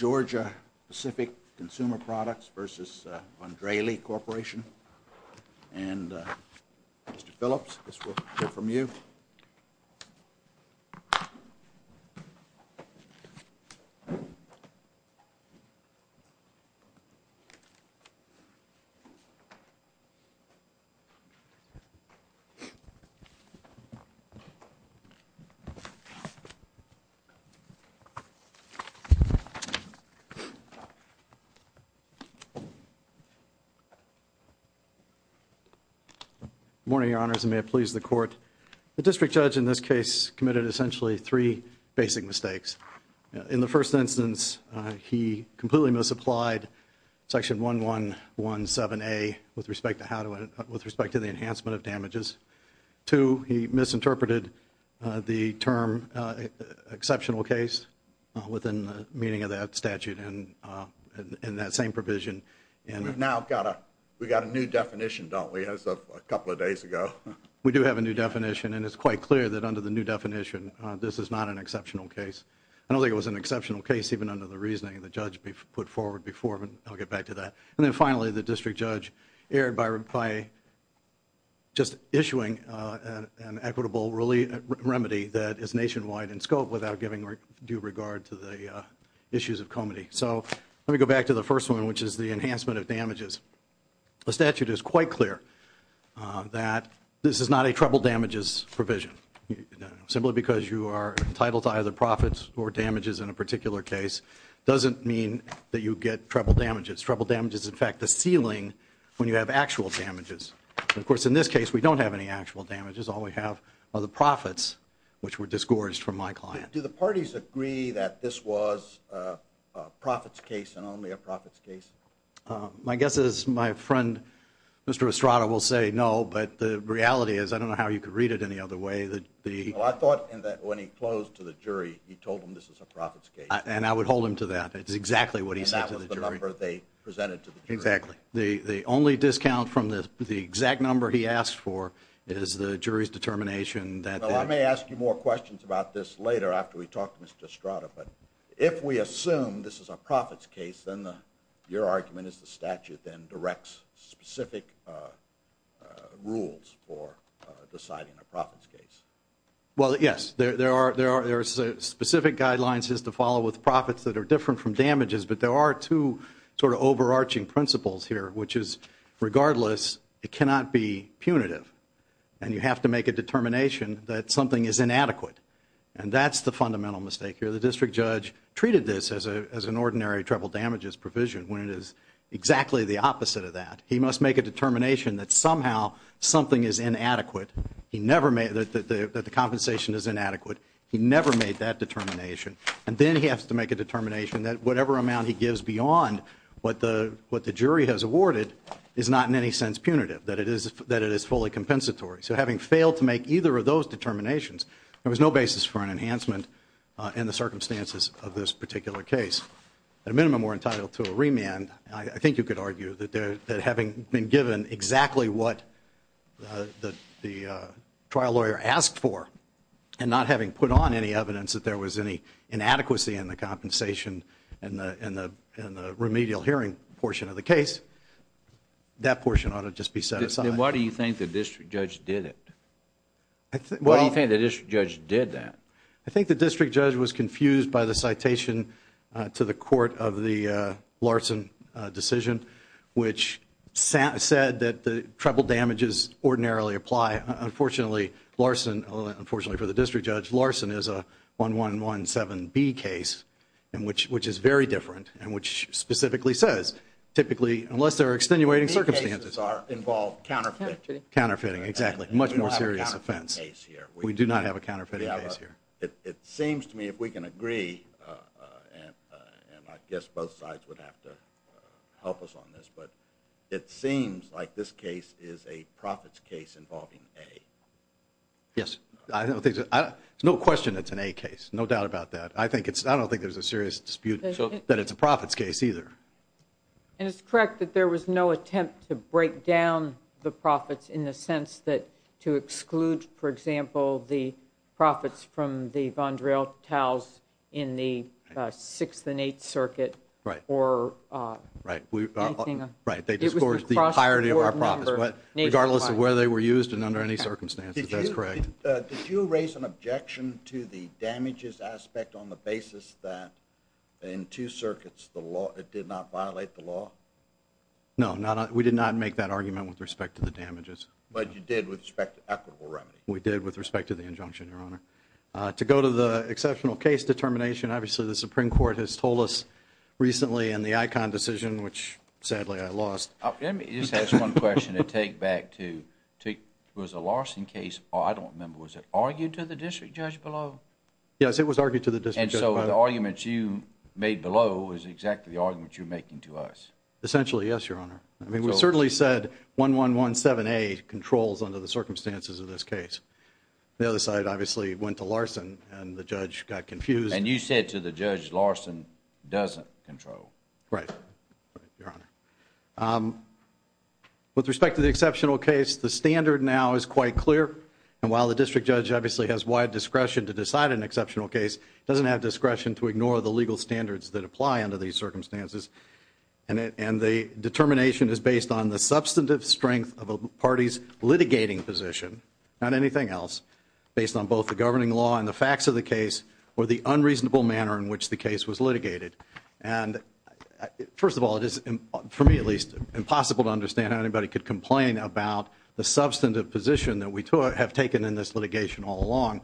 and Mr. Phillips, I guess we'll hear from you. Good morning, Your Honors, and may it please the Court, the District Judge in this case committed essentially three basic mistakes. In the first instance, he completely misapplied Section 1117A with respect to the enhancement of damages. Two, he misinterpreted the term exceptional case within the meaning of that statute and that same provision. We've now got a new definition, don't we, as of a couple of days ago? We do have a new definition, and it's quite clear that under the new definition this is not an exceptional case. I don't think it was an exceptional case even under the reasoning the Judge put forward before, but I'll get back to that. And then finally, the District Judge erred by just issuing an equitable remedy that is nationwide in scope without giving due regard to the issues of comity. So let me go back to the first one, which is the enhancement of damages. The statute is quite clear that this is not a treble damages provision. Simply because you are entitled to either profits or damages in a particular case doesn't mean that you get treble damages. Treble damages, in fact, the ceiling when you have actual damages. Of course, in this case we don't have any actual damages. All we have are the profits, which were disgorged from my client. Do the parties agree that this was a profits case and only a profits case? My guess is my friend, Mr. Estrada, will say no, but the reality is, I don't know how you could read it any other way, that the... I thought that when he closed to the jury, he told them this is a profits case. And I would hold him to that. It's exactly what he said to the jury. And that was the number they presented to the jury. Exactly. The only discount from the exact number he asked for is the jury's determination that... Well, I may ask you more questions about this later after we talk to Mr. Estrada, but if we assume this is a profits case, then your argument is the statute then directs specific rules for deciding a profits case. Well yes, there are specific guidelines to follow with profits that are different from damages, but there are two sort of overarching principles here, which is regardless, it cannot be punitive. And you have to make a determination that something is inadequate. And that's the fundamental mistake here. The district judge treated this as an ordinary treble damages provision, when it is exactly the opposite of that. He must make a determination that somehow something is inadequate, that the compensation is inadequate. He never made that determination. And then he has to make a determination that whatever amount he gives beyond what the jury has awarded is not in any sense punitive, that it is fully compensatory. So having failed to make either of those determinations, there was no basis for an enhancement in the circumstances of this particular case. At a minimum, we're entitled to a remand. I think you could argue that having been given exactly what the trial lawyer asked for and not having put on any evidence that there was any inadequacy in the compensation in the remedial hearing portion of the case, that portion ought to just be set aside. Why do you think the district judge did it? Why do you think the district judge did that? I think the district judge was confused by the citation to the court of the Larson decision, which said that the treble damages ordinarily apply. Unfortunately, Larson, unfortunately for the district judge, Larson is a 1117B case, which is very different and which specifically says, typically, unless there are extenuating circumstances B cases involve counterfeiting. Counterfeiting, exactly. Much more serious offense. We don't have a counterfeiting case here. We do not have a counterfeiting case here. It seems to me if we can agree, and I guess both sides would have to help us on this, but it seems like this case is a profits case involving A. Yes. I don't think, there's no question it's an A case. No doubt about that. I think it's, I don't think there's a serious dispute that it's a profits case either. And it's correct that there was no attempt to break down the profits in the sense that to exclude, for example, the profits from the Vondrell Tows in the 6th and 8th Circuit Right. Right. Right. Right. They discouraged the entirety of our profits, regardless of whether they were used and under any circumstances. That's correct. Did you raise an objection to the damages aspect on the basis that in two circuits the law, it did not violate the law? No. We did not make that argument with respect to the damages. But you did with respect to equitable remedy. We did with respect to the injunction, Your Honor. To go to the exceptional case determination, obviously the Supreme Court has told us recently in the Icahn decision, which sadly I lost. Let me just ask one question to take back to, was the Larson case, I don't remember, was it argued to the district judge below? Yes, it was argued to the district judge below. And so the arguments you made below is exactly the arguments you're making to us? Essentially, yes, Your Honor. I mean, we certainly said 1117A controls under the circumstances of this case. The other side, obviously, went to Larson and the judge got confused. And you said to the judge, Larson doesn't control. Right. Right, Your Honor. With respect to the exceptional case, the standard now is quite clear. And while the district judge obviously has wide discretion to decide an exceptional case, it doesn't have discretion to ignore the legal standards that apply under these circumstances. And the determination is based on the substantive strength of a party's litigating position, not anything else, based on both the governing law and the facts of the case, or the unreasonable manner in which the case was litigated. And first of all, it is, for me at least, impossible to understand how anybody could complain about the substantive position that we have taken in this litigation all along,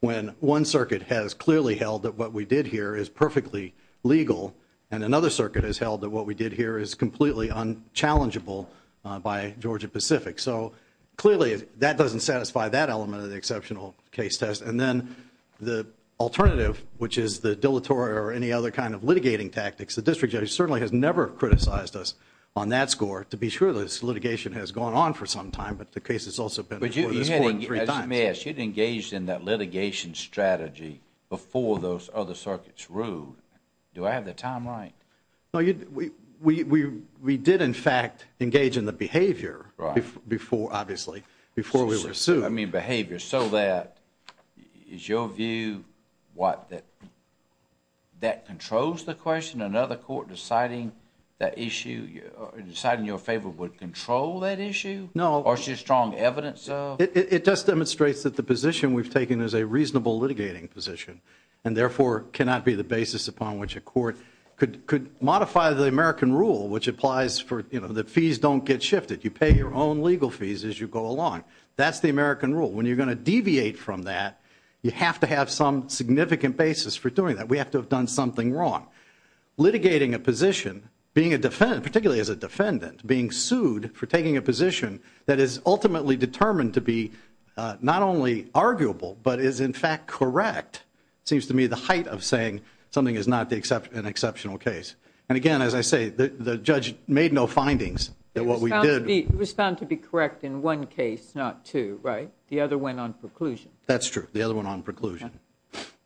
when one circuit has clearly held that what we did here is perfectly legal, and another circuit has held that what we did here is completely unchallengeable by Georgia Pacific. So, clearly, that doesn't satisfy that element of the exceptional case test. And then, the alternative, which is the dilatory or any other kind of litigating tactics, the district judge certainly has never criticized us on that score, to be sure that this litigation has gone on for some time, but the case has also been before this court three times. But you had engaged in that litigation strategy before those other circuits ruled. Do I have the time right? No, we did, in fact, engage in the behavior before, obviously, before we were sued. I mean, behavior, so that, is your view, what, that that controls the question? Another court deciding that issue, deciding in your favor would control that issue? No. Or is there strong evidence of? It just demonstrates that the position we've taken is a reasonable litigating position, and therefore, cannot be the basis upon which a court could modify the American rule, which applies for, you know, the fees don't get shifted. You pay your own legal fees as you go along. That's the American rule. When you're going to deviate from that, you have to have some significant basis for doing that. We have to have done something wrong. Litigating a position, being a defendant, particularly as a defendant, being sued for correct seems to me the height of saying something is not an exceptional case. And again, as I say, the judge made no findings that what we did. It was found to be correct in one case, not two, right? The other went on preclusion. That's true. The other went on preclusion.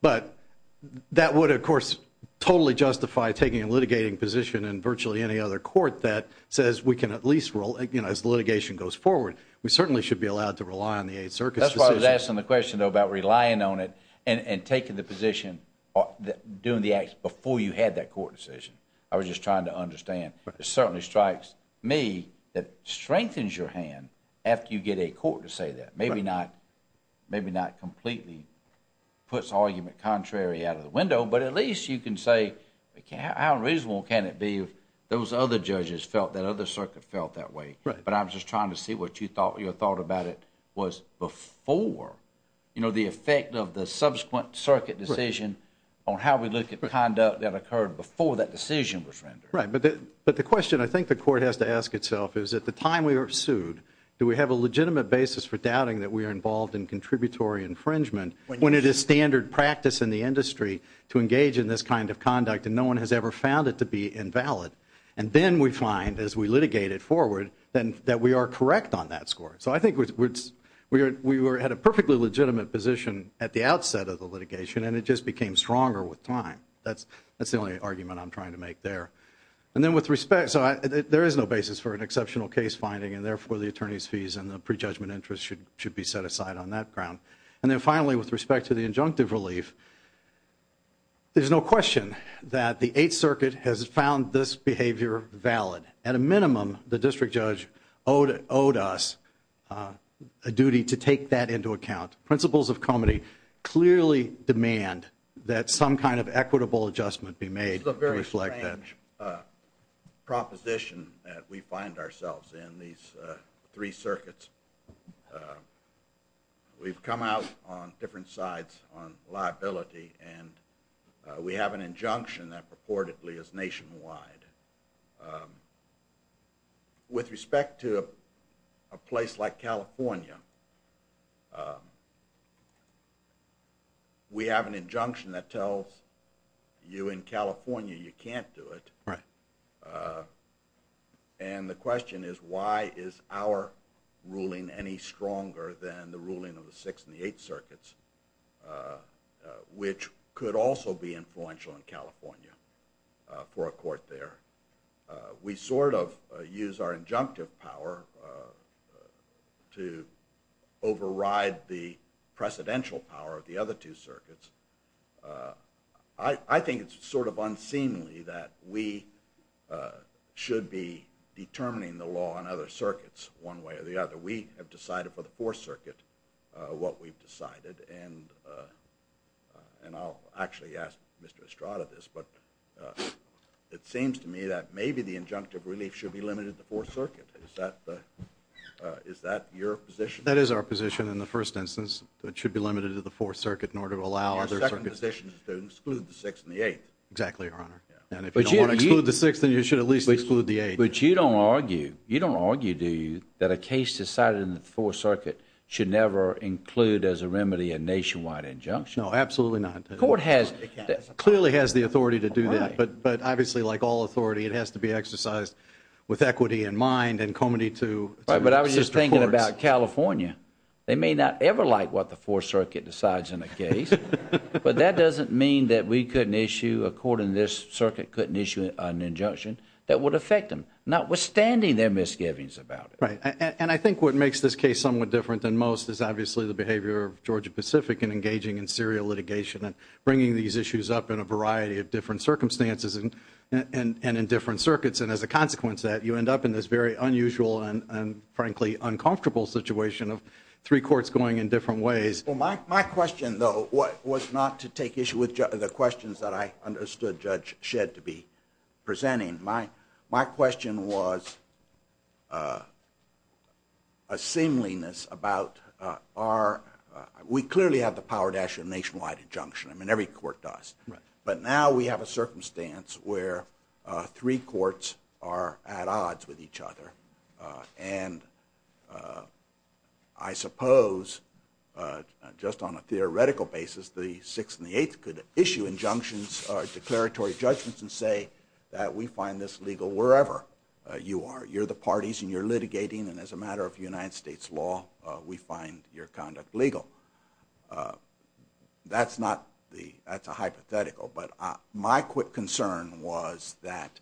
But that would, of course, totally justify taking a litigating position in virtually any other court that says we can at least, you know, as litigation goes forward, we certainly should be allowed to rely on the Eighth Circuit's decision. That's why I was asking the question, though, about relying on it and taking the position or doing the act before you had that court decision. I was just trying to understand. It certainly strikes me that it strengthens your hand after you get a court to say that. Maybe not completely puts argument contrary out of the window, but at least you can say how unreasonable can it be if those other judges felt that other circuit felt that way. But I was just trying to see what your thought about it was before, you know, the effect of the subsequent circuit decision on how we look at the conduct that occurred before that decision was rendered. Right. But the question I think the court has to ask itself is at the time we are sued, do we have a legitimate basis for doubting that we are involved in contributory infringement when it is standard practice in the industry to engage in this kind of conduct and no one has ever found it to be invalid? And then we find as we litigate it forward that we are correct on that score. So I think we were at a perfectly legitimate position at the outset of the litigation and it just became stronger with time. That's the only argument I'm trying to make there. And then with respect, so there is no basis for an exceptional case finding and therefore the attorney's fees and the prejudgment interest should be set aside on that ground. And then finally with respect to the injunctive relief, there's no question that the Eighth Circuit's behavior valid. At a minimum, the district judge owed us a duty to take that into account. Principles of comedy clearly demand that some kind of equitable adjustment be made to reflect that. This is a very strange proposition that we find ourselves in, these three circuits. We've come out on different sides on liability and we have an injunction that purportedly is nationwide. With respect to a place like California, we have an injunction that tells you in California you can't do it. And the question is why is our ruling any stronger than the ruling of the Sixth and California for a court there. We sort of use our injunctive power to override the precedential power of the other two circuits. I think it's sort of unseemly that we should be determining the law on other circuits one way or the other. We have decided for the Fourth Circuit what we've decided and I'll actually ask Mr. Estrada this, but it seems to me that maybe the injunctive relief should be limited to the Fourth Circuit. Is that your position? That is our position in the first instance. It should be limited to the Fourth Circuit in order to allow other circuits. Your second position is to exclude the Sixth and the Eighth. Exactly, Your Honor. And if you don't want to exclude the Sixth, then you should at least exclude the Eighth. But you don't argue, you don't argue, do you, that a case decided in the Fourth Circuit should never include as a remedy a nationwide injunction? No, absolutely not. The court has... The court clearly has the authority to do that, but obviously like all authority it has to be exercised with equity in mind and comity to... Right, but I was just thinking about California. They may not ever like what the Fourth Circuit decides in a case, but that doesn't mean that we couldn't issue, a court in this circuit couldn't issue an injunction that would affect them, notwithstanding their misgivings about it. Right. And I think what makes this case somewhat different than most is obviously the behavior of Georgia Pacific in engaging in serial litigation and bringing these issues up in a variety of different circumstances and in different circuits. And as a consequence of that, you end up in this very unusual and frankly uncomfortable situation of three courts going in different ways. My question though was not to take issue with the questions that I understood Judge Shedd to be presenting. My question was a seemliness about our... We clearly have the power to issue a nationwide injunction, I mean every court does. But now we have a circumstance where three courts are at odds with each other and I suppose just on a theoretical basis, the Sixth and the Eighth could issue injunctions or declaratory judgments and say that we find this legal wherever you are. You're the parties and you're litigating and as a matter of United States law, we find your conduct legal. That's not the... That's a hypothetical, but my quick concern was that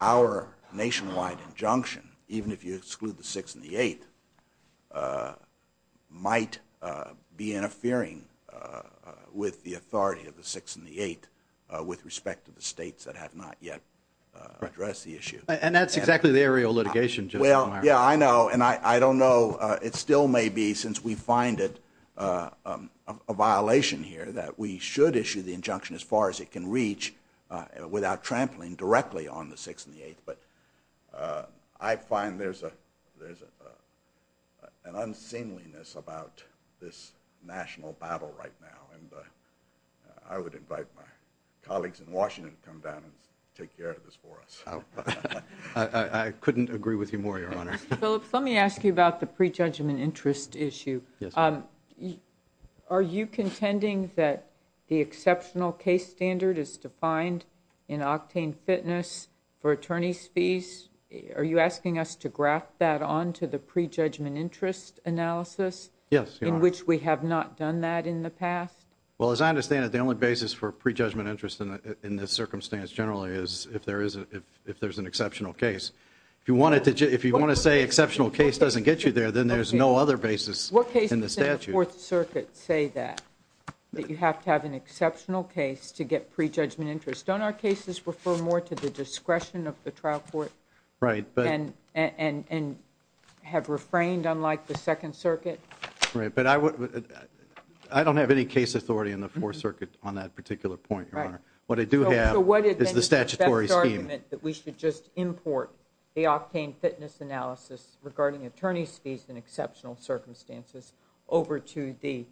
our nationwide injunction, even if you exclude the Sixth and the Eighth, might be interfering with the authority of the Sixth and the Eighth with respect to the states that have not yet addressed the issue. And that's exactly the area of litigation, Judge O'Mara. Yeah, I know. And I don't know. It still may be, since we find it a violation here, that we should issue the injunction as far as it can reach without trampling directly on the Sixth and the Eighth. But I find there's an unseemliness about this national battle right now and I would invite my colleagues in Washington to come down and take care of this for us. I couldn't agree with you more, Your Honor. Mr. Phillips, let me ask you about the prejudgment interest issue. Are you contending that the exceptional case standard is defined in octane fitness for attorney's fees? Are you asking us to graft that onto the prejudgment interest analysis? Yes, Your Honor. In which we have not done that in the past? Well, as I understand it, the only basis for prejudgment interest in this circumstance generally is if there's an exceptional case. If you want to say exceptional case doesn't get you there, then there's no other basis in the statute. What cases in the Fourth Circuit say that, that you have to have an exceptional case to get prejudgment interest? Don't our cases refer more to the discretion of the trial court and have refrained unlike the Second Circuit? Right, but I don't have any case authority in the Fourth Circuit on that particular point, Your Honor. What I do have is the statutory scheme. So what is the best argument that we should just import the octane fitness analysis regarding attorney's fees in exceptional circumstances over to the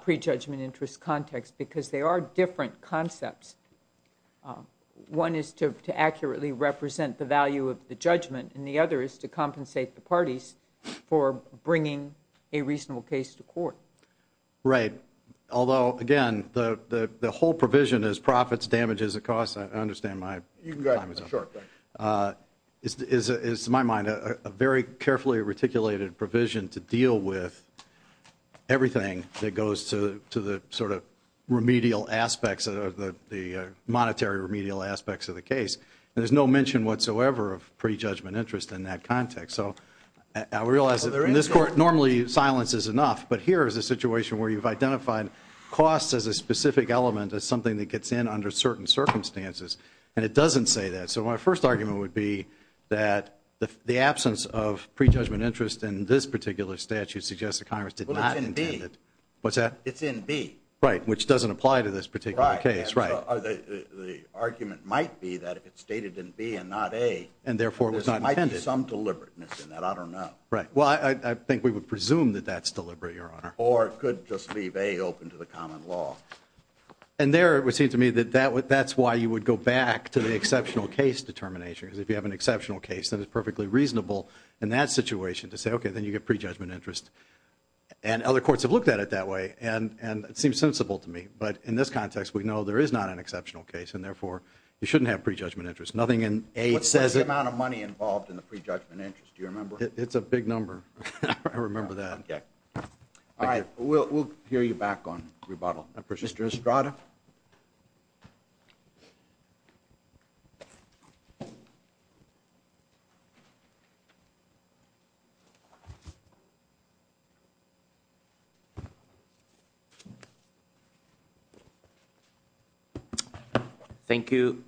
prejudgment interest context? Because they are different concepts. One is to accurately represent the value of the judgment and the other is to compensate the parties for bringing a reasonable case to court. Right. Although, again, the whole provision is profits, damages, and costs. I understand my time is up. Is to my mind a very carefully reticulated provision to deal with everything that goes to the sort of remedial aspects of the monetary remedial aspects of the case. And there's no mention whatsoever of prejudgment interest in that context. So I realize that in this court normally silence is enough, but here is a situation where you've identified costs as a specific element as something that gets in under certain circumstances and it doesn't say that. So my first argument would be that the absence of prejudgment interest in this particular statute suggests the Congress did not intend it. What's that? It's in B. Right. Which doesn't apply to this particular case. Right. The argument might be that if it's stated in B and not A, there might be some deliberateness in that. I don't know. Right. Well, I think we would presume that that's deliberate, Your Honor. Or it could just leave A open to the common law. And there it would seem to me that that's why you would go back to the exceptional case determination. Because if you have an exceptional case, then it's perfectly reasonable in that situation to say, OK, then you get prejudgment interest. And other courts have looked at it that way and it seems sensible to me. But in this context, we know there is not an exceptional case and therefore, you shouldn't have prejudgment interest. Nothing in A says it. What's the amount of money involved in the prejudgment interest? Do you remember? It's a big number. I remember that. OK. All right. We'll hear you back on rebuttal. Mr. Estrada. Thank you,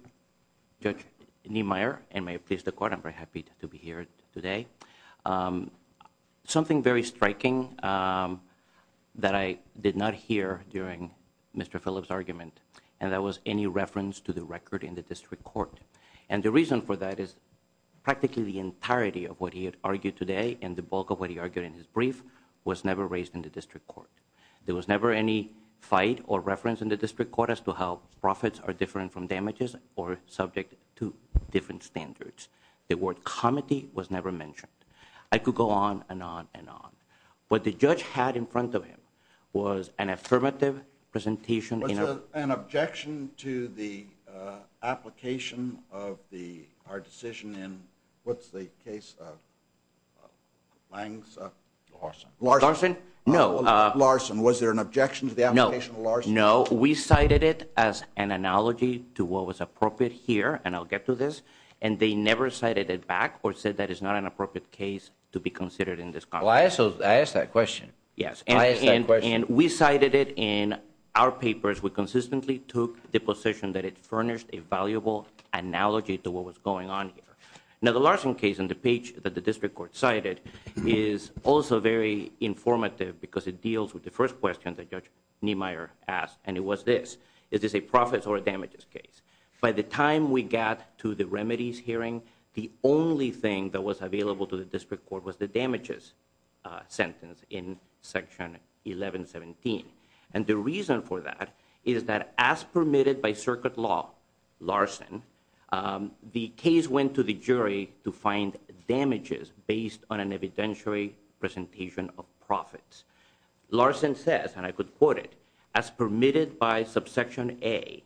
Judge Niemeyer, and may it please the court, I'm very happy to be here today. Something very striking that I did not hear during Mr. Phillips' argument, and that was any reference to the record in the district court. And the reason for that is practically the entirety of what he had argued today and the bulk of what he argued in his brief was never raised in the district court. There was never any fight or reference in the district court as to how profits are different from damages or subject to different standards. The word comity was never mentioned. I could go on and on and on. What the judge had in front of him was an affirmative presentation in a- An objection to the application of the, our decision in, what's the case, Langs, Larson. Larson? Larson? No. Larson. Was there an objection to the application of Larson? No. We cited it as an analogy to what was appropriate here, and I'll get to this. And they never cited it back or said that it's not an appropriate case to be considered in this context. Well, I asked that question. Yes. I asked that question. And we cited it in our papers. We consistently took the position that it furnished a valuable analogy to what was going on here. Now, the Larson case on the page that the district court cited is also very informative because it deals with the first question that Judge Niemeyer asked, and it was this. Is this a profits or a damages case? By the time we got to the remedies hearing, the only thing that was available to the district court was the damages sentence in section 1117. And the reason for that is that as permitted by circuit law, Larson, the case went to the jury to find damages based on an evidentiary presentation of profits. Larson says, and I could quote it, as permitted by subsection A,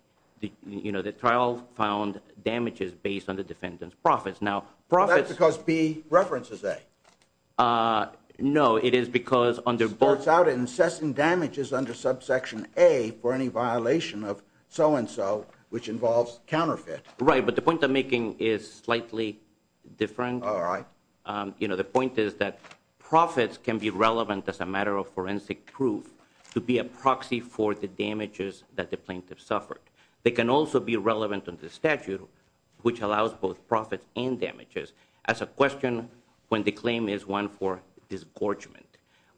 you know, the trial found damages based on the defendant's profits. Now profits- That's because B references A. No. It is because under- It starts out in assessing damages under subsection A for any violation of so-and-so, which involves counterfeit. Right. But the point I'm making is slightly different. All right. You know, the point is that profits can be relevant as a matter of forensic proof to be a proxy for the damages that the plaintiff suffered. They can also be relevant under statute, which allows both profits and damages as a question when the claim is one for disgorgement.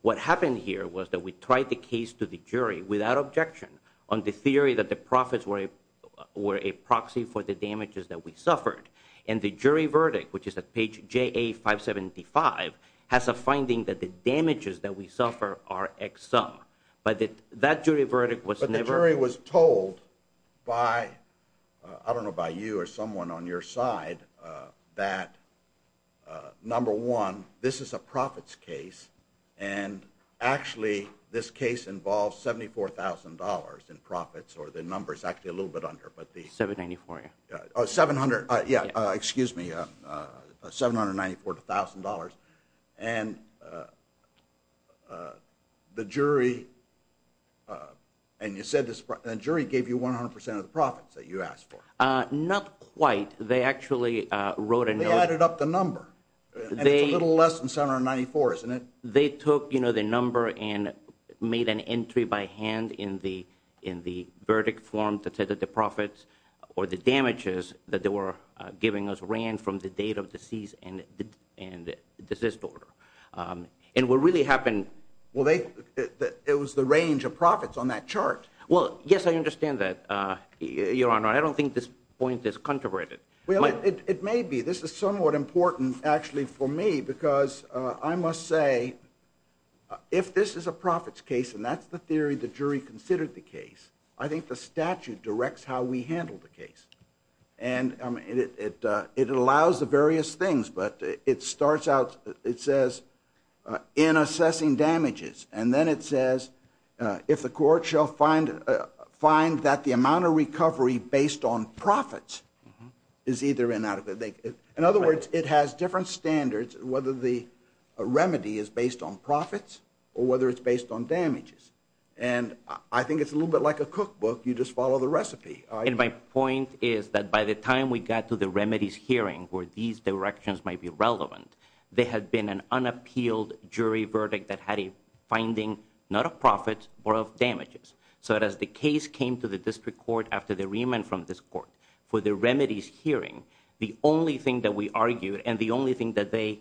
What happened here was that we tried the case to the jury without objection on the theory that the profits were a proxy for the damages that we suffered. And the jury verdict, which is at page JA575, has a finding that the damages that we suffer are X sum. But that jury verdict was never- But the jury was told by, I don't know, by you or someone on your side, that number one, this is a profits case, and actually this case involves $74,000 in profits, or the number's actually a little bit under, but the- $794,000. Oh, 700. Yeah. Excuse me. $794,000. And the jury, and you said the jury gave you 100% of the profits that you asked for. Not quite. They actually wrote a note- They added up the number. And it's a little less than $794,000, isn't it? They took the number and made an entry by hand in the verdict form to say that the profits or the damages that they were giving us ran from the date of the cease and desist order. And what really happened- Well, it was the range of profits on that chart. Well, yes, I understand that, Your Honor. I don't think this point is controverted. It may be. This is somewhat important, actually, for me, because I must say, if this is a profits case, and that's the theory the jury considered the case, I think the statute directs how we handle the case. And it allows the various things, but it starts out, it says, in assessing damages. And then it says, if the court shall find that the amount of recovery based on profits is either inadequate- In other words, it has different standards, whether the remedy is based on profits or whether it's based on damages. And I think it's a little bit like a cookbook. You just follow the recipe. And my point is that by the time we got to the remedies hearing, where these directions might be relevant, there had been an unappealed jury verdict that had a finding, not of profits, but of damages. So as the case came to the district court after the remand from this court for the remedies hearing, the only thing that we argued and the only thing that they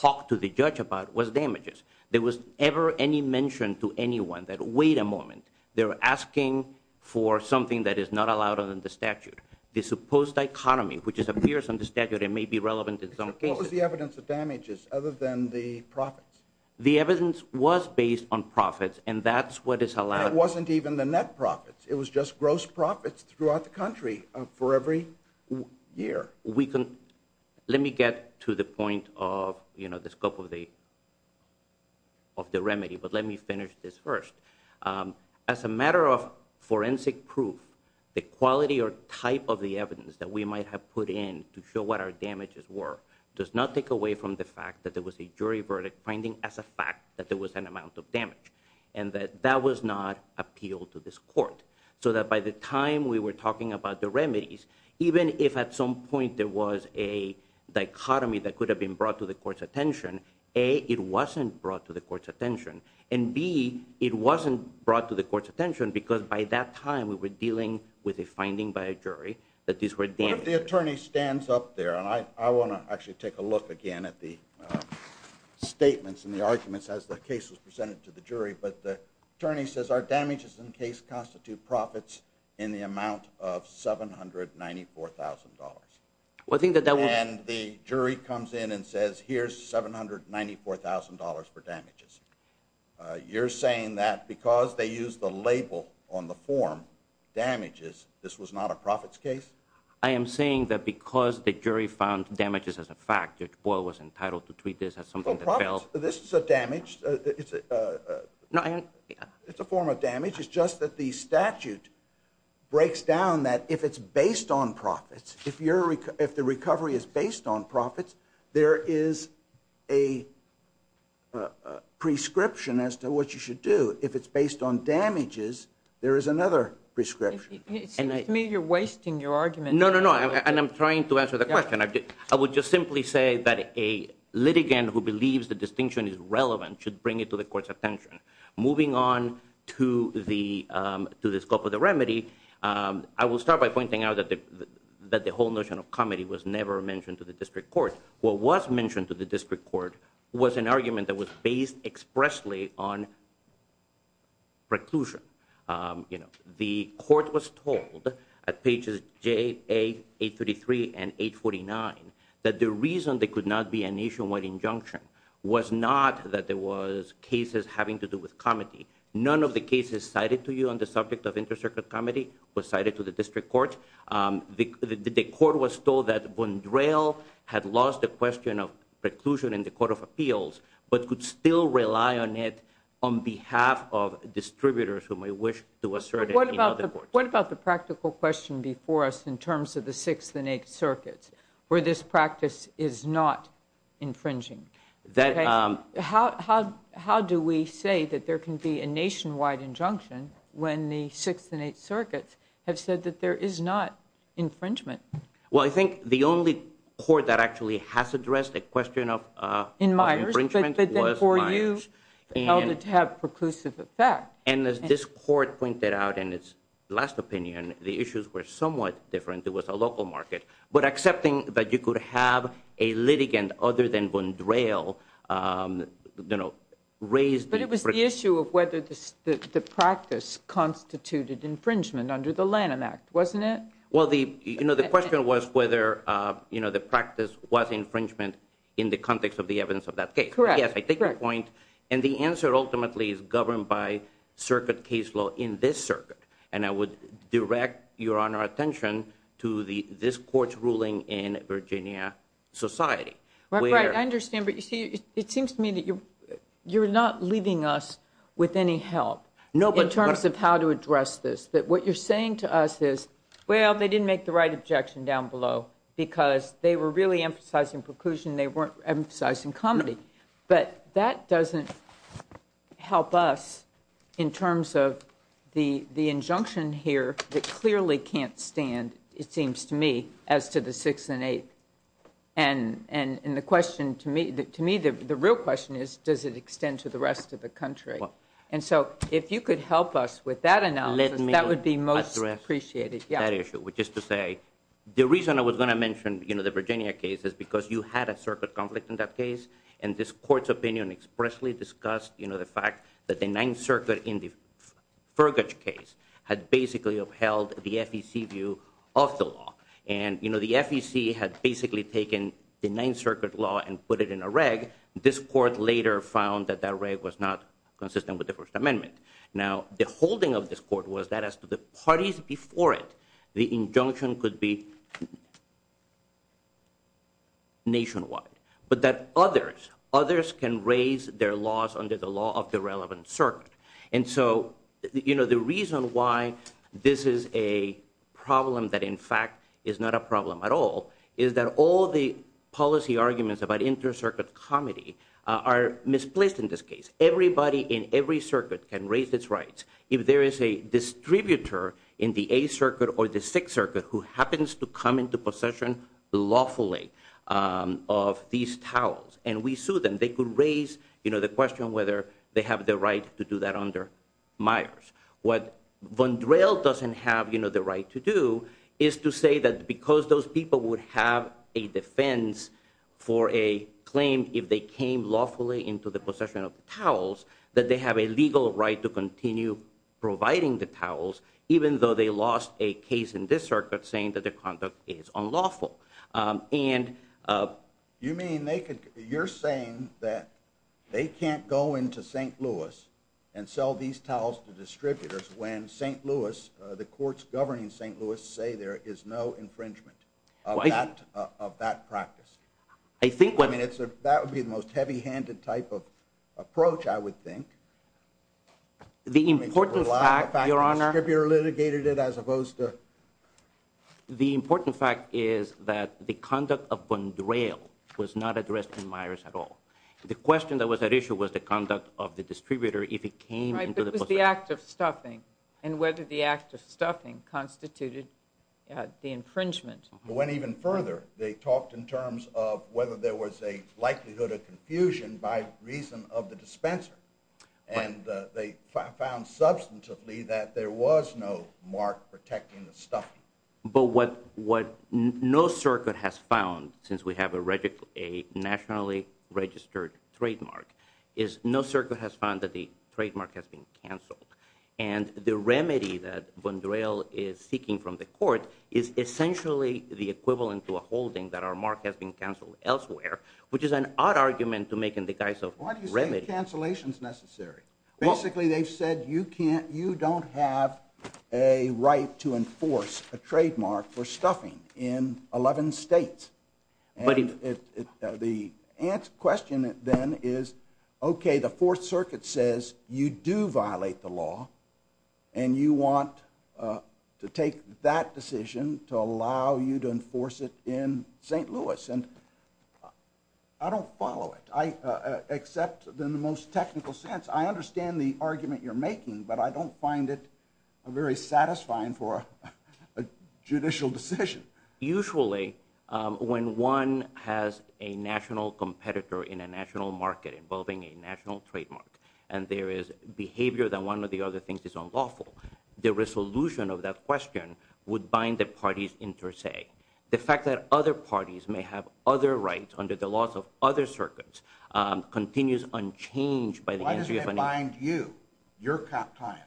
talked to the judge about was damages. There was never any mention to anyone that, wait a moment, they're asking for something that is not allowed under the statute. The supposed dichotomy, which appears under statute and may be relevant in some cases- What was the evidence of damages, other than the profits? The evidence was based on profits, and that's what is allowed- And it wasn't even the net profits. It was just gross profits throughout the country for every year. Let me get to the point of the scope of the remedy, but let me finish this first. As a matter of forensic proof, the quality or type of the evidence that we might have put in to show what our damages were does not take away from the fact that there was a jury verdict finding as a fact that there was an amount of damage. And that that was not appealed to this court. So that by the time we were talking about the remedies, even if at some point there was a dichotomy that could have been brought to the court's attention, A, it wasn't brought to the court's attention, and B, it wasn't brought to the court's attention because by that time we were dealing with a finding by a jury that these were damages. What if the attorney stands up there, and I want to actually take a look again at the statements and the arguments as the case was presented to the jury, but the attorney says our damages in the case constitute profits in the amount of $794,000. And the jury comes in and says, here's $794,000 for damages. You're saying that because they used the label on the form, damages, this was not a profits case? I am saying that because the jury found damages as a fact, Judge Boyle was entitled to treat this as something that failed. Well, profits, this is a damage, it's a form of damage, it's just that the statute breaks down that if it's based on profits, if the recovery is based on profits, there is a prescription as to what you should do. If it's based on damages, there is another prescription. It seems to me you're wasting your argument. No, no, no. And I'm trying to answer the question. I would just simply say that a litigant who believes the distinction is relevant should bring it to the court's attention. Moving on to the scope of the remedy, I will start by pointing out that the whole notion of comedy was never mentioned to the district court. What was mentioned to the district court was an argument that was based expressly on preclusion. The court was told at pages J, A, 833, and 849 that the reason there could not be a nationwide injunction was not that there was cases having to do with comedy. None of the cases cited to you on the subject of inter-circuit comedy was cited to the district court. The court was told that Bundrel had lost the question of preclusion in the Court of Appeals but could still rely on it on behalf of distributors who may wish to assert it in other courts. What about the practical question before us in terms of the Sixth and Eighth Circuits where this practice is not infringing? How do we say that there can be a nationwide injunction when the Sixth and Eighth Circuits have said that there is not infringement? Well, I think the only court that actually has addressed a question of infringement was Myers. But then for you, you held it to have preclusive effect. And as this court pointed out in its last opinion, the issues were somewhat different. It was a local market. But accepting that you could have a litigant other than Bundrel, you know, raise the... But it was the issue of whether the practice constituted infringement under the Lanham Act, wasn't it? Well, the question was whether the practice was infringement in the context of the evidence of that case. Correct. Yes, I take your point. And the answer ultimately is governed by circuit case law in this circuit. And I would direct Your Honor's attention to this court's ruling in Virginia Society. Right, right. I understand. But you see, it seems to me that you're not leaving us with any help in terms of how to address this. That what you're saying to us is, well, they didn't make the right objection down below because they were really emphasizing preclusion. They weren't emphasizing comedy. But that doesn't help us in terms of the injunction here that clearly can't stand, it seems to me, as to the sixth and eighth. And the question to me, the real question is, does it extend to the rest of the country? And so if you could help us with that analysis, that would be most appreciated. Let me address that issue. Which is to say, the reason I was going to mention the Virginia case is because you had a circuit conflict in that case. And this court's opinion expressly discussed the fact that the Ninth Circuit in the Fergus case had basically upheld the FEC view of the law. And the FEC had basically taken the Ninth Circuit law and put it in a reg. This court later found that that reg was not consistent with the First Amendment. Now the holding of this court was that as to the parties before it, the injunction could be nationwide. But that others, others can raise their laws under the law of the relevant circuit. And so, you know, the reason why this is a problem that in fact is not a problem at all is that all the policy arguments about inter-circuit comedy are misplaced in this case. Everybody in every circuit can raise its rights. If there is a distributor in the Eighth Circuit or the Sixth Circuit who happens to come into possession lawfully of these towels, and we sue them, they could raise the question whether they have the right to do that under Myers. What Von Drell doesn't have, you know, the right to do is to say that because those people would have a defense for a claim if they came lawfully into the possession of the towels, that they have a legal right to continue providing the towels even though they lost a case in this circuit saying that the conduct is unlawful. And you mean they could, you're saying that they can't go into St. Louis and sell these distributors when St. Louis, the courts governing St. Louis say there is no infringement of that practice? I think what... I mean, that would be the most heavy-handed type of approach, I would think. The important fact, Your Honor... The fact that the distributor litigated it as opposed to... The important fact is that the conduct of Von Drell was not addressed in Myers at all. The question that was at issue was the conduct of the distributor if he came into the possession... It was the act of stuffing and whether the act of stuffing constituted the infringement. It went even further. They talked in terms of whether there was a likelihood of confusion by reason of the dispenser and they found substantively that there was no mark protecting the stuffing. But what no circuit has found, since we have a nationally registered trademark, is no circuit has found that the trademark has been canceled. And the remedy that Von Drell is seeking from the court is essentially the equivalent to a holding that our mark has been canceled elsewhere, which is an odd argument to make in the guise of remedy. Why do you say the cancellation is necessary? Basically they've said you can't... You don't have a right to enforce a trademark for stuffing in 11 states. And the question then is, okay, the Fourth Circuit says you do violate the law and you want to take that decision to allow you to enforce it in St. Louis. And I don't follow it, except in the most technical sense. I understand the argument you're making, but I don't find it very satisfying for a judicial decision. Usually, when one has a national competitor in a national market involving a national trademark, and there is behavior that one or the other thinks is unlawful, the resolution of that question would bind the parties inter se. The fact that other parties may have other rights under the laws of other circuits continues unchanged by the... Why does it bind you, your client?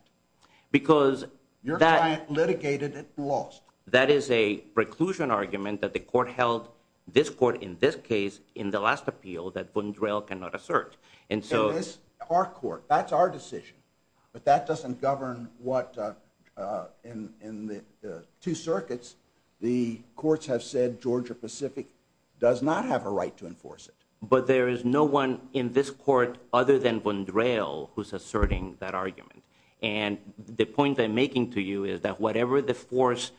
Because that... Your client litigated it lost. That is a preclusion argument that the court held, this court in this case, in the last appeal that Bundrel cannot assert. And so... Our court. That's our decision. But that doesn't govern what, in the two circuits, the courts have said Georgia-Pacific does not have a right to enforce it. But there is no one in this court other than Bundrel who's asserting that argument. And the point I'm making to you is that whatever the force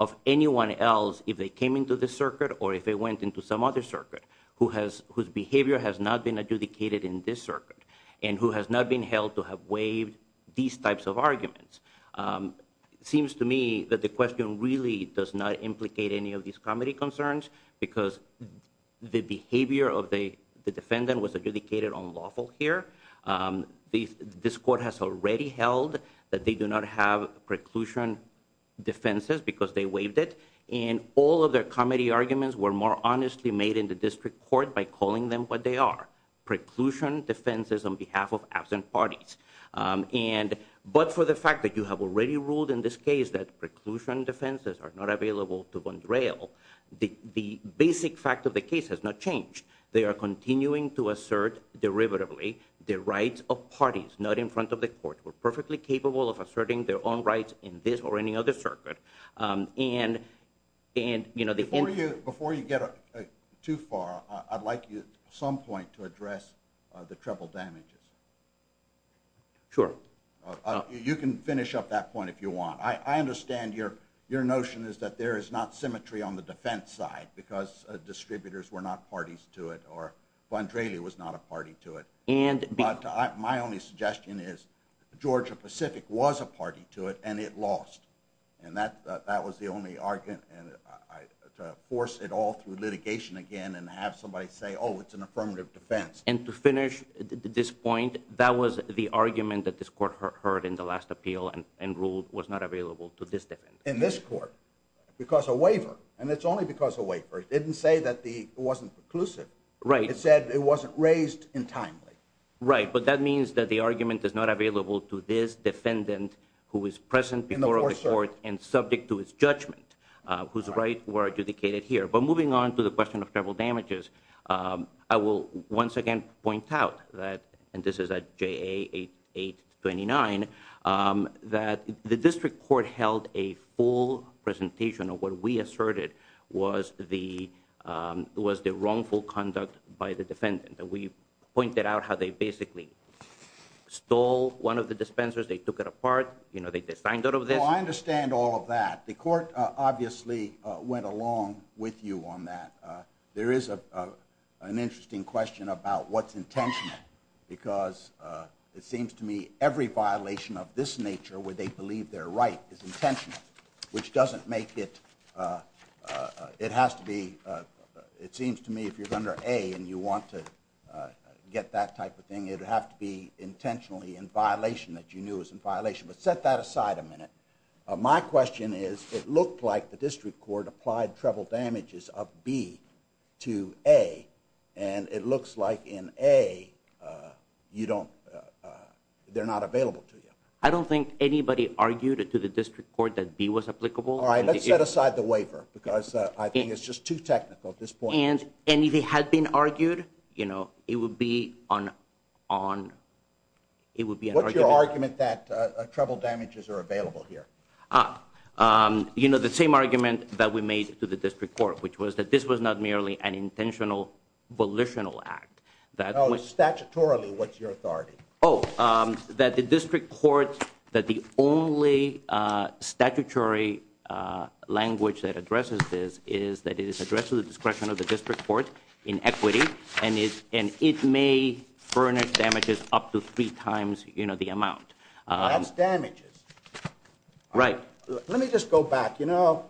of anyone else, if they came into this circuit or if they went into some other circuit, whose behavior has not been adjudicated in this circuit, and who has not been held to have waived these types of arguments, seems to me that the question really does not implicate any of these comedy concerns because the behavior of the defendant was adjudicated unlawful here. This court has already held that they do not have preclusion defenses because they waived it and all of their comedy arguments were more honestly made in the district court by calling them what they are, preclusion defenses on behalf of absent parties. But for the fact that you have already ruled in this case that preclusion defenses are not available to Bundrel, the basic fact of the case has not changed. They are continuing to assert derivatively the rights of parties not in front of the court. We're perfectly capable of asserting their own rights in this or any other circuit. And before you get too far, I'd like you at some point to address the treble damages. Sure. You can finish up that point if you want. I understand your notion is that there is not symmetry on the defense side because distributors were not parties to it or Bundrel was not a party to it. My only suggestion is Georgia-Pacific was a party to it and it lost. And that was the only argument to force it all through litigation again and have somebody say, oh, it's an affirmative defense. And to finish this point, that was the argument that this court heard in the last appeal and ruled was not available to this defendant. In this court. Because of waiver. And it's only because of waiver. It didn't say that it wasn't preclusive. It said it wasn't raised in time. Right. But that means that the argument is not available to this defendant who is present before the court and subject to his judgment. Whose rights were adjudicated here. But moving on to the question of treble damages, I will once again point out that, and this was the wrongful conduct by the defendant. We pointed out how they basically stole one of the dispensers. They took it apart. You know, they designed it out of this. Well, I understand all of that. The court obviously went along with you on that. There is an interesting question about what's intentional because it seems to me every violation of this nature where they believe they're right is intentional, which doesn't make it It has to be, it seems to me, if you're under A and you want to get that type of thing, it would have to be intentionally in violation that you knew was in violation, but set that aside a minute. My question is, it looked like the district court applied treble damages of B to A and it looks like in A, you don't, they're not available to you. I don't think anybody argued it to the district court that B was applicable. All right, let's set aside the waiver because I think it's just too technical at this point. And if it had been argued, you know, it would be on, it would be an argument. What's your argument that treble damages are available here? You know, the same argument that we made to the district court, which was that this was not merely an intentional volitional act. No, statutorily, what's your authority? Oh, that the district court, that the only statutory language that addresses this is that it is addressed to the discretion of the district court in equity and it may furnish damages up to three times, you know, the amount. That's damages. Right. Let me just go back, you know,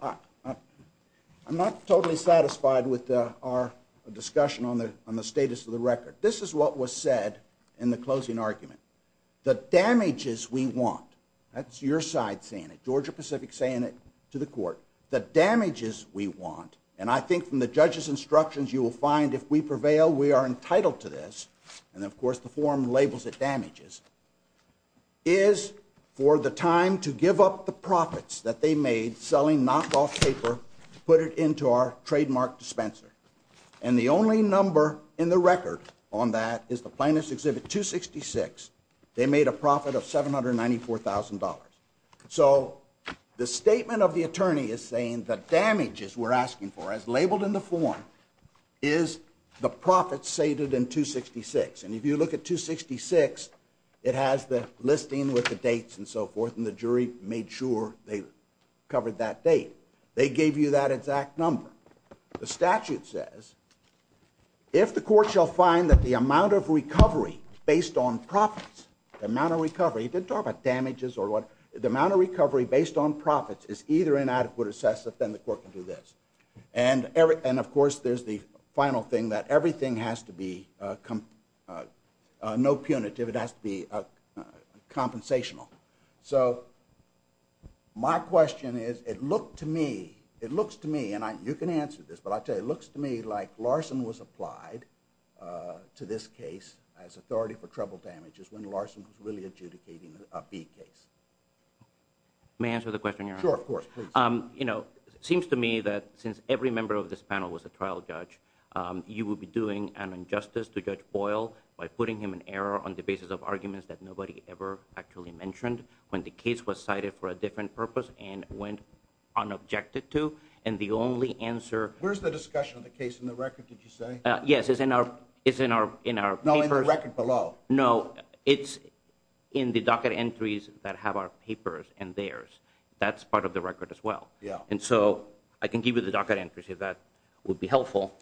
I'm not totally satisfied with our discussion on the status of the record. This is what was said in the closing argument. The damages we want, that's your side saying it, Georgia Pacific saying it to the court, the damages we want, and I think from the judge's instructions you will find if we prevail, we are entitled to this, and of course the form labels it damages, is for the time to give up the profits that they made selling knockoff paper to put it into our trademark dispenser, and the only number in the record on that is the plaintiff's exhibit 266. They made a profit of $794,000. So the statement of the attorney is saying the damages we're asking for, as labeled in the form, is the profits stated in 266, and if you look at 266, it has the listing with the dates and so forth, and the jury made sure they covered that date. They gave you that exact number. The statute says if the court shall find that the amount of recovery based on profits, the amount of recovery, it didn't talk about damages or what, the amount of recovery based on profits is either inadequate or excessive, then the court can do this, and of course there's the final thing that everything has to be, no punitive, it has to be compensational. So my question is, it looked to me, it looks to me, and you can answer this, but I'll tell you, it looks to me like Larson was applied to this case as authority for trouble damages when Larson was really adjudicating a B case. May I answer the question? Sure, of course. Please. You know, it seems to me that since every member of this panel was a trial judge, you would be doing an injustice to Judge Boyle by putting him in error on the basis of arguments that nobody ever actually mentioned when the case was cited for a different purpose and went unobjected to, and the only answer- Where's the discussion of the case in the record, did you say? Yes, it's in our papers. No, in the record below. No, it's in the docket entries that have our papers and theirs. That's part of the record as well. And so I can give you the docket entries if that would be helpful.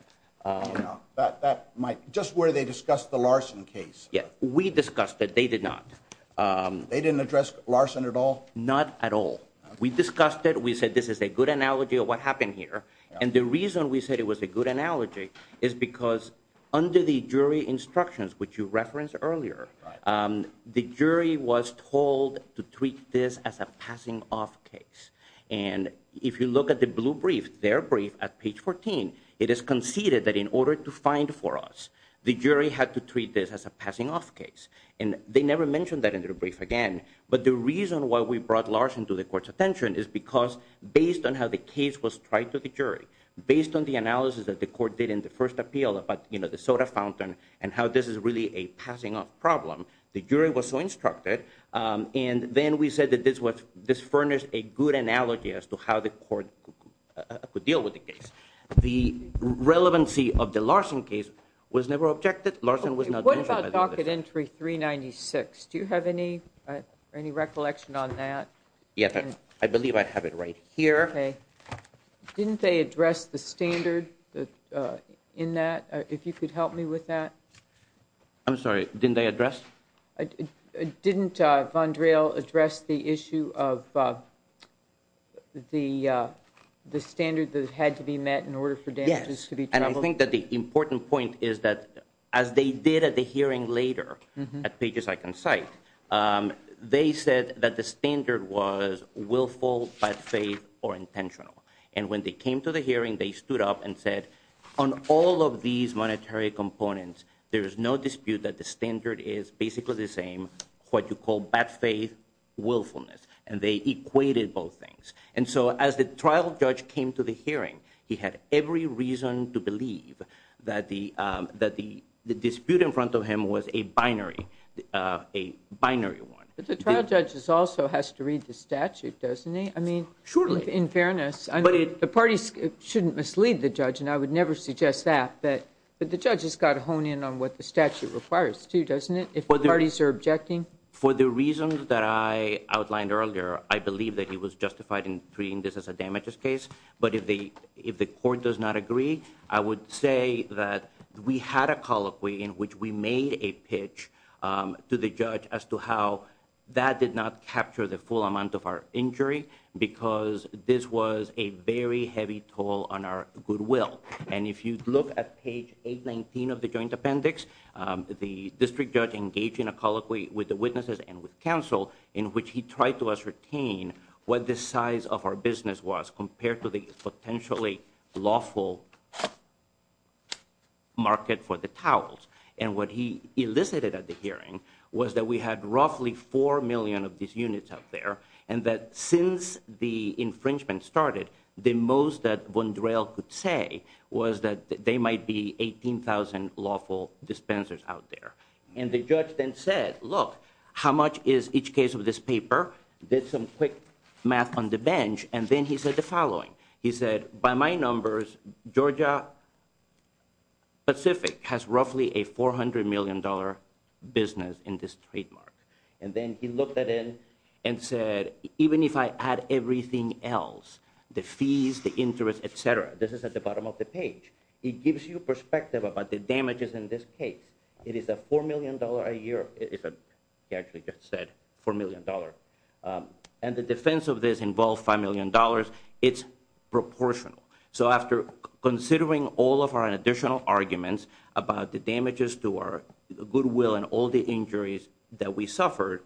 Just where they discussed the Larson case. Yes. We discussed it. They did not. They didn't address Larson at all? Not at all. We discussed it. We said this is a good analogy of what happened here. And the reason we said it was a good analogy is because under the jury instructions, which you referenced earlier, the jury was told to treat this as a passing off case. And if you look at the blue brief, their brief at page 14, it is conceded that in order to And they never mentioned that in their brief again, but the reason why we brought Larson to the court's attention is because based on how the case was tried to the jury, based on the analysis that the court did in the first appeal about the soda fountain and how this is really a passing off problem, the jury was so instructed. And then we said that this furnished a good analogy as to how the court could deal with the case. The relevancy of the Larson case was never objected. Larson was not mentioned. What about docket entry 396? Do you have any recollection on that? Yes. I believe I have it right here. Didn't they address the standard in that? If you could help me with that? I'm sorry. Didn't they address? Didn't Von Drehl address the issue of the standard that had to be met in order for damages to be troubled? And I think that the important point is that as they did at the hearing later at Pages I Can Cite, they said that the standard was willful, bad faith, or intentional. And when they came to the hearing, they stood up and said, on all of these monetary components, there is no dispute that the standard is basically the same, what you call bad faith, willfulness. And they equated both things. And so as the trial judge came to the hearing, he had every reason to believe that the dispute in front of him was a binary one. The trial judge also has to read the statute, doesn't he? In fairness, the parties shouldn't mislead the judge, and I would never suggest that. But the judge has got to hone in on what the statute requires, too, doesn't it, if the parties are objecting? For the reasons that I outlined earlier, I believe that he was justified in treating this as a damages case. But if the court does not agree, I would say that we had a colloquy in which we made a pitch to the judge as to how that did not capture the full amount of our injury, because this was a very heavy toll on our goodwill. And if you look at page 819 of the joint appendix, the district judge engaged in a colloquy with the witnesses and with counsel in which he tried to ascertain what the size of our business was compared to the potentially lawful market for the towels. And what he elicited at the hearing was that we had roughly 4 million of these units out there, and that since the infringement started, the most that Von Drehl could say was that they might be 18,000 lawful dispensers out there. And the judge then said, look, how much is each case of this paper? Did some quick math on the bench, and then he said the following. He said, by my numbers, Georgia Pacific has roughly a $400 million business in this trademark. And then he looked that in and said, even if I add everything else, the fees, the interest, et cetera, this is at the bottom of the page, it gives you perspective about the damages in this case. It is a $4 million a year. He actually just said $4 million. And the defense of this involved $5 million. It's proportional. So after considering all of our additional arguments about the damages to our goodwill and all the injuries that we suffered,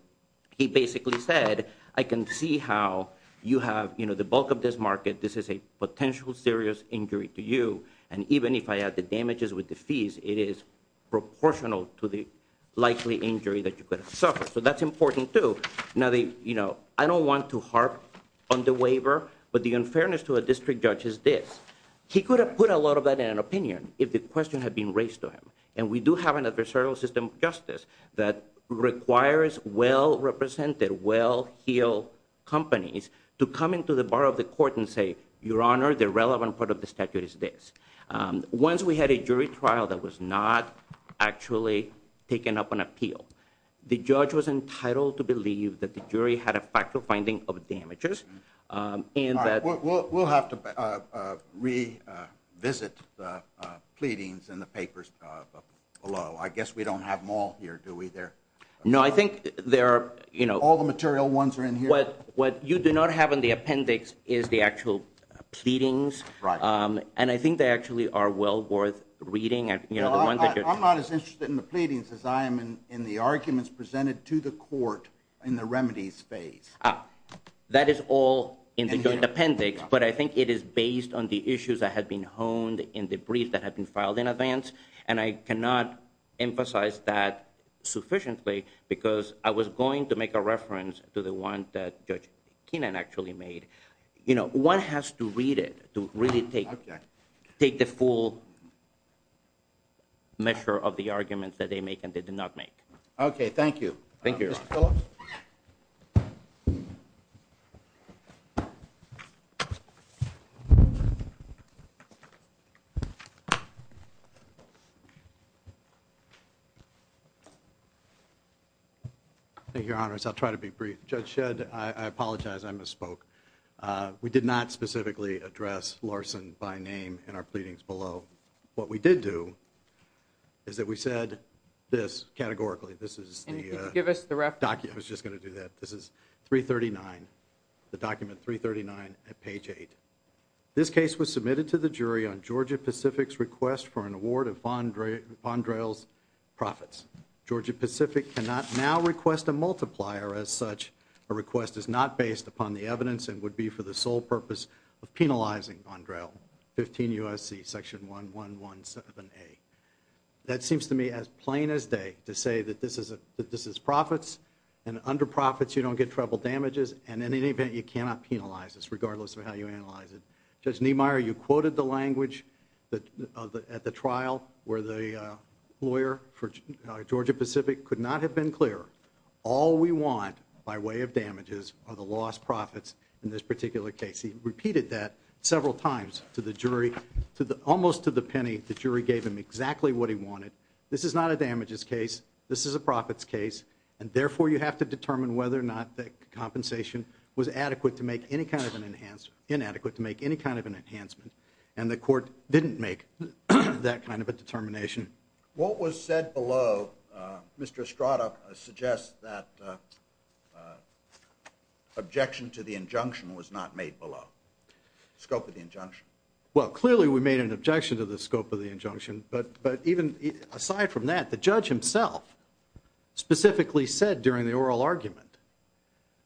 he basically said, I can see how you have the bulk of this market. This is a potential serious injury to you. And even if I add the damages with the fees, it is proportional to the likely injury that you could have suffered. So that's important too. Now, I don't want to harp on the waiver, but the unfairness to a district judge is this. He could have put a lot of that in an opinion if the question had been raised to him. And we do have an adversarial system of justice that requires well-represented, well-heeled companies to come into the bar of the court and say, your honor, the relevant part of the statute is this. Once we had a jury trial that was not actually taken up on appeal, the judge was entitled to believe that the jury had a factual finding of damages and that- All right. We'll have to revisit the pleadings in the papers below. I guess we don't have them all here, do we? No. I think there are- All the material ones are in here? What you do not have in the appendix is the actual pleadings. And I think they actually are well worth reading. I'm not as interested in the pleadings as I am in the arguments presented to the court in the remedies phase. That is all in the appendix, but I think it is based on the issues that had been honed in the brief that had been filed in advance. And I cannot emphasize that sufficiently because I was going to make a reference to the one that Judge Keenan actually made. One has to read it to really take the full measure of the arguments that they make and they do not make. Okay. Thank you. Thank you, Your Honor. Mr. Phillips? Thank you, Your Honors. I'll try to be brief. Judge Shedd, I apologize, I misspoke. We did not specifically address Larson by name in our pleadings below. What we did do is that we said this categorically. This is the- Can you give us the reference? I was just going to do that. This is 339, the document 339 at page 8. This case was submitted to the jury on Georgia Pacific's request for an award of Fondrel's profits. Georgia Pacific cannot now request a multiplier as such. A request is not based upon the evidence and would be for the sole purpose of penalizing Fondrel. 15 U.S.C. section 1117A. That seems to me as plain as day to say that this is profits and under profits you don't get treble damages and in any event you cannot penalize this regardless of how you analyze it. Judge Niemeyer, you quoted the language at the trial where the lawyer for Georgia Pacific could not have been clearer. All we want by way of damages are the lost profits in this particular case. He repeated that several times to the jury, almost to the penny the jury gave him exactly what he wanted. This is not a damages case. This is a profits case and therefore you have to determine whether or not the compensation was adequate to make any kind of an enhancement and the court didn't make that kind of a determination. What was said below, Mr. Estrada, suggests that objection to the injunction was not made below. The scope of the injunction. Well clearly we made an objection to the scope of the injunction but even aside from that the judge himself specifically said during the oral argument,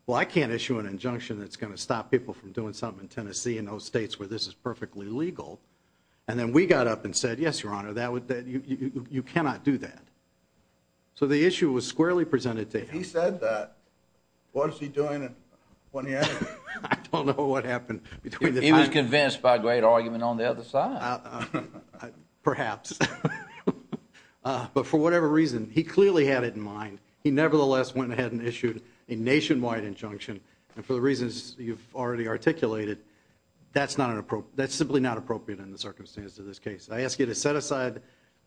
well I can't issue an injunction that's going to stop people from doing something in Tennessee in those states where this is perfectly legal. And then we got up and said yes your honor, you cannot do that. So the issue was squarely presented to him. If he said that, what was he doing when he had it? I don't know what happened between the two. He was convinced by a great argument on the other side. Perhaps. But for whatever reason, he clearly had it in mind. He nevertheless went ahead and issued a nationwide injunction and for the reasons you've already articulated that's simply not appropriate in the circumstances of this case. I ask you to set aside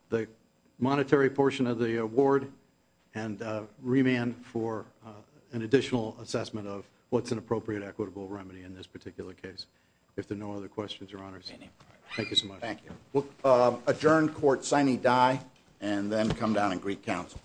the monetary portion of the award and remand for an additional assessment of what's an appropriate equitable remedy in this particular case. If there are no other questions, your honors, thank you so much. Thank you. We'll adjourn court sine die and then come down and greet counsel.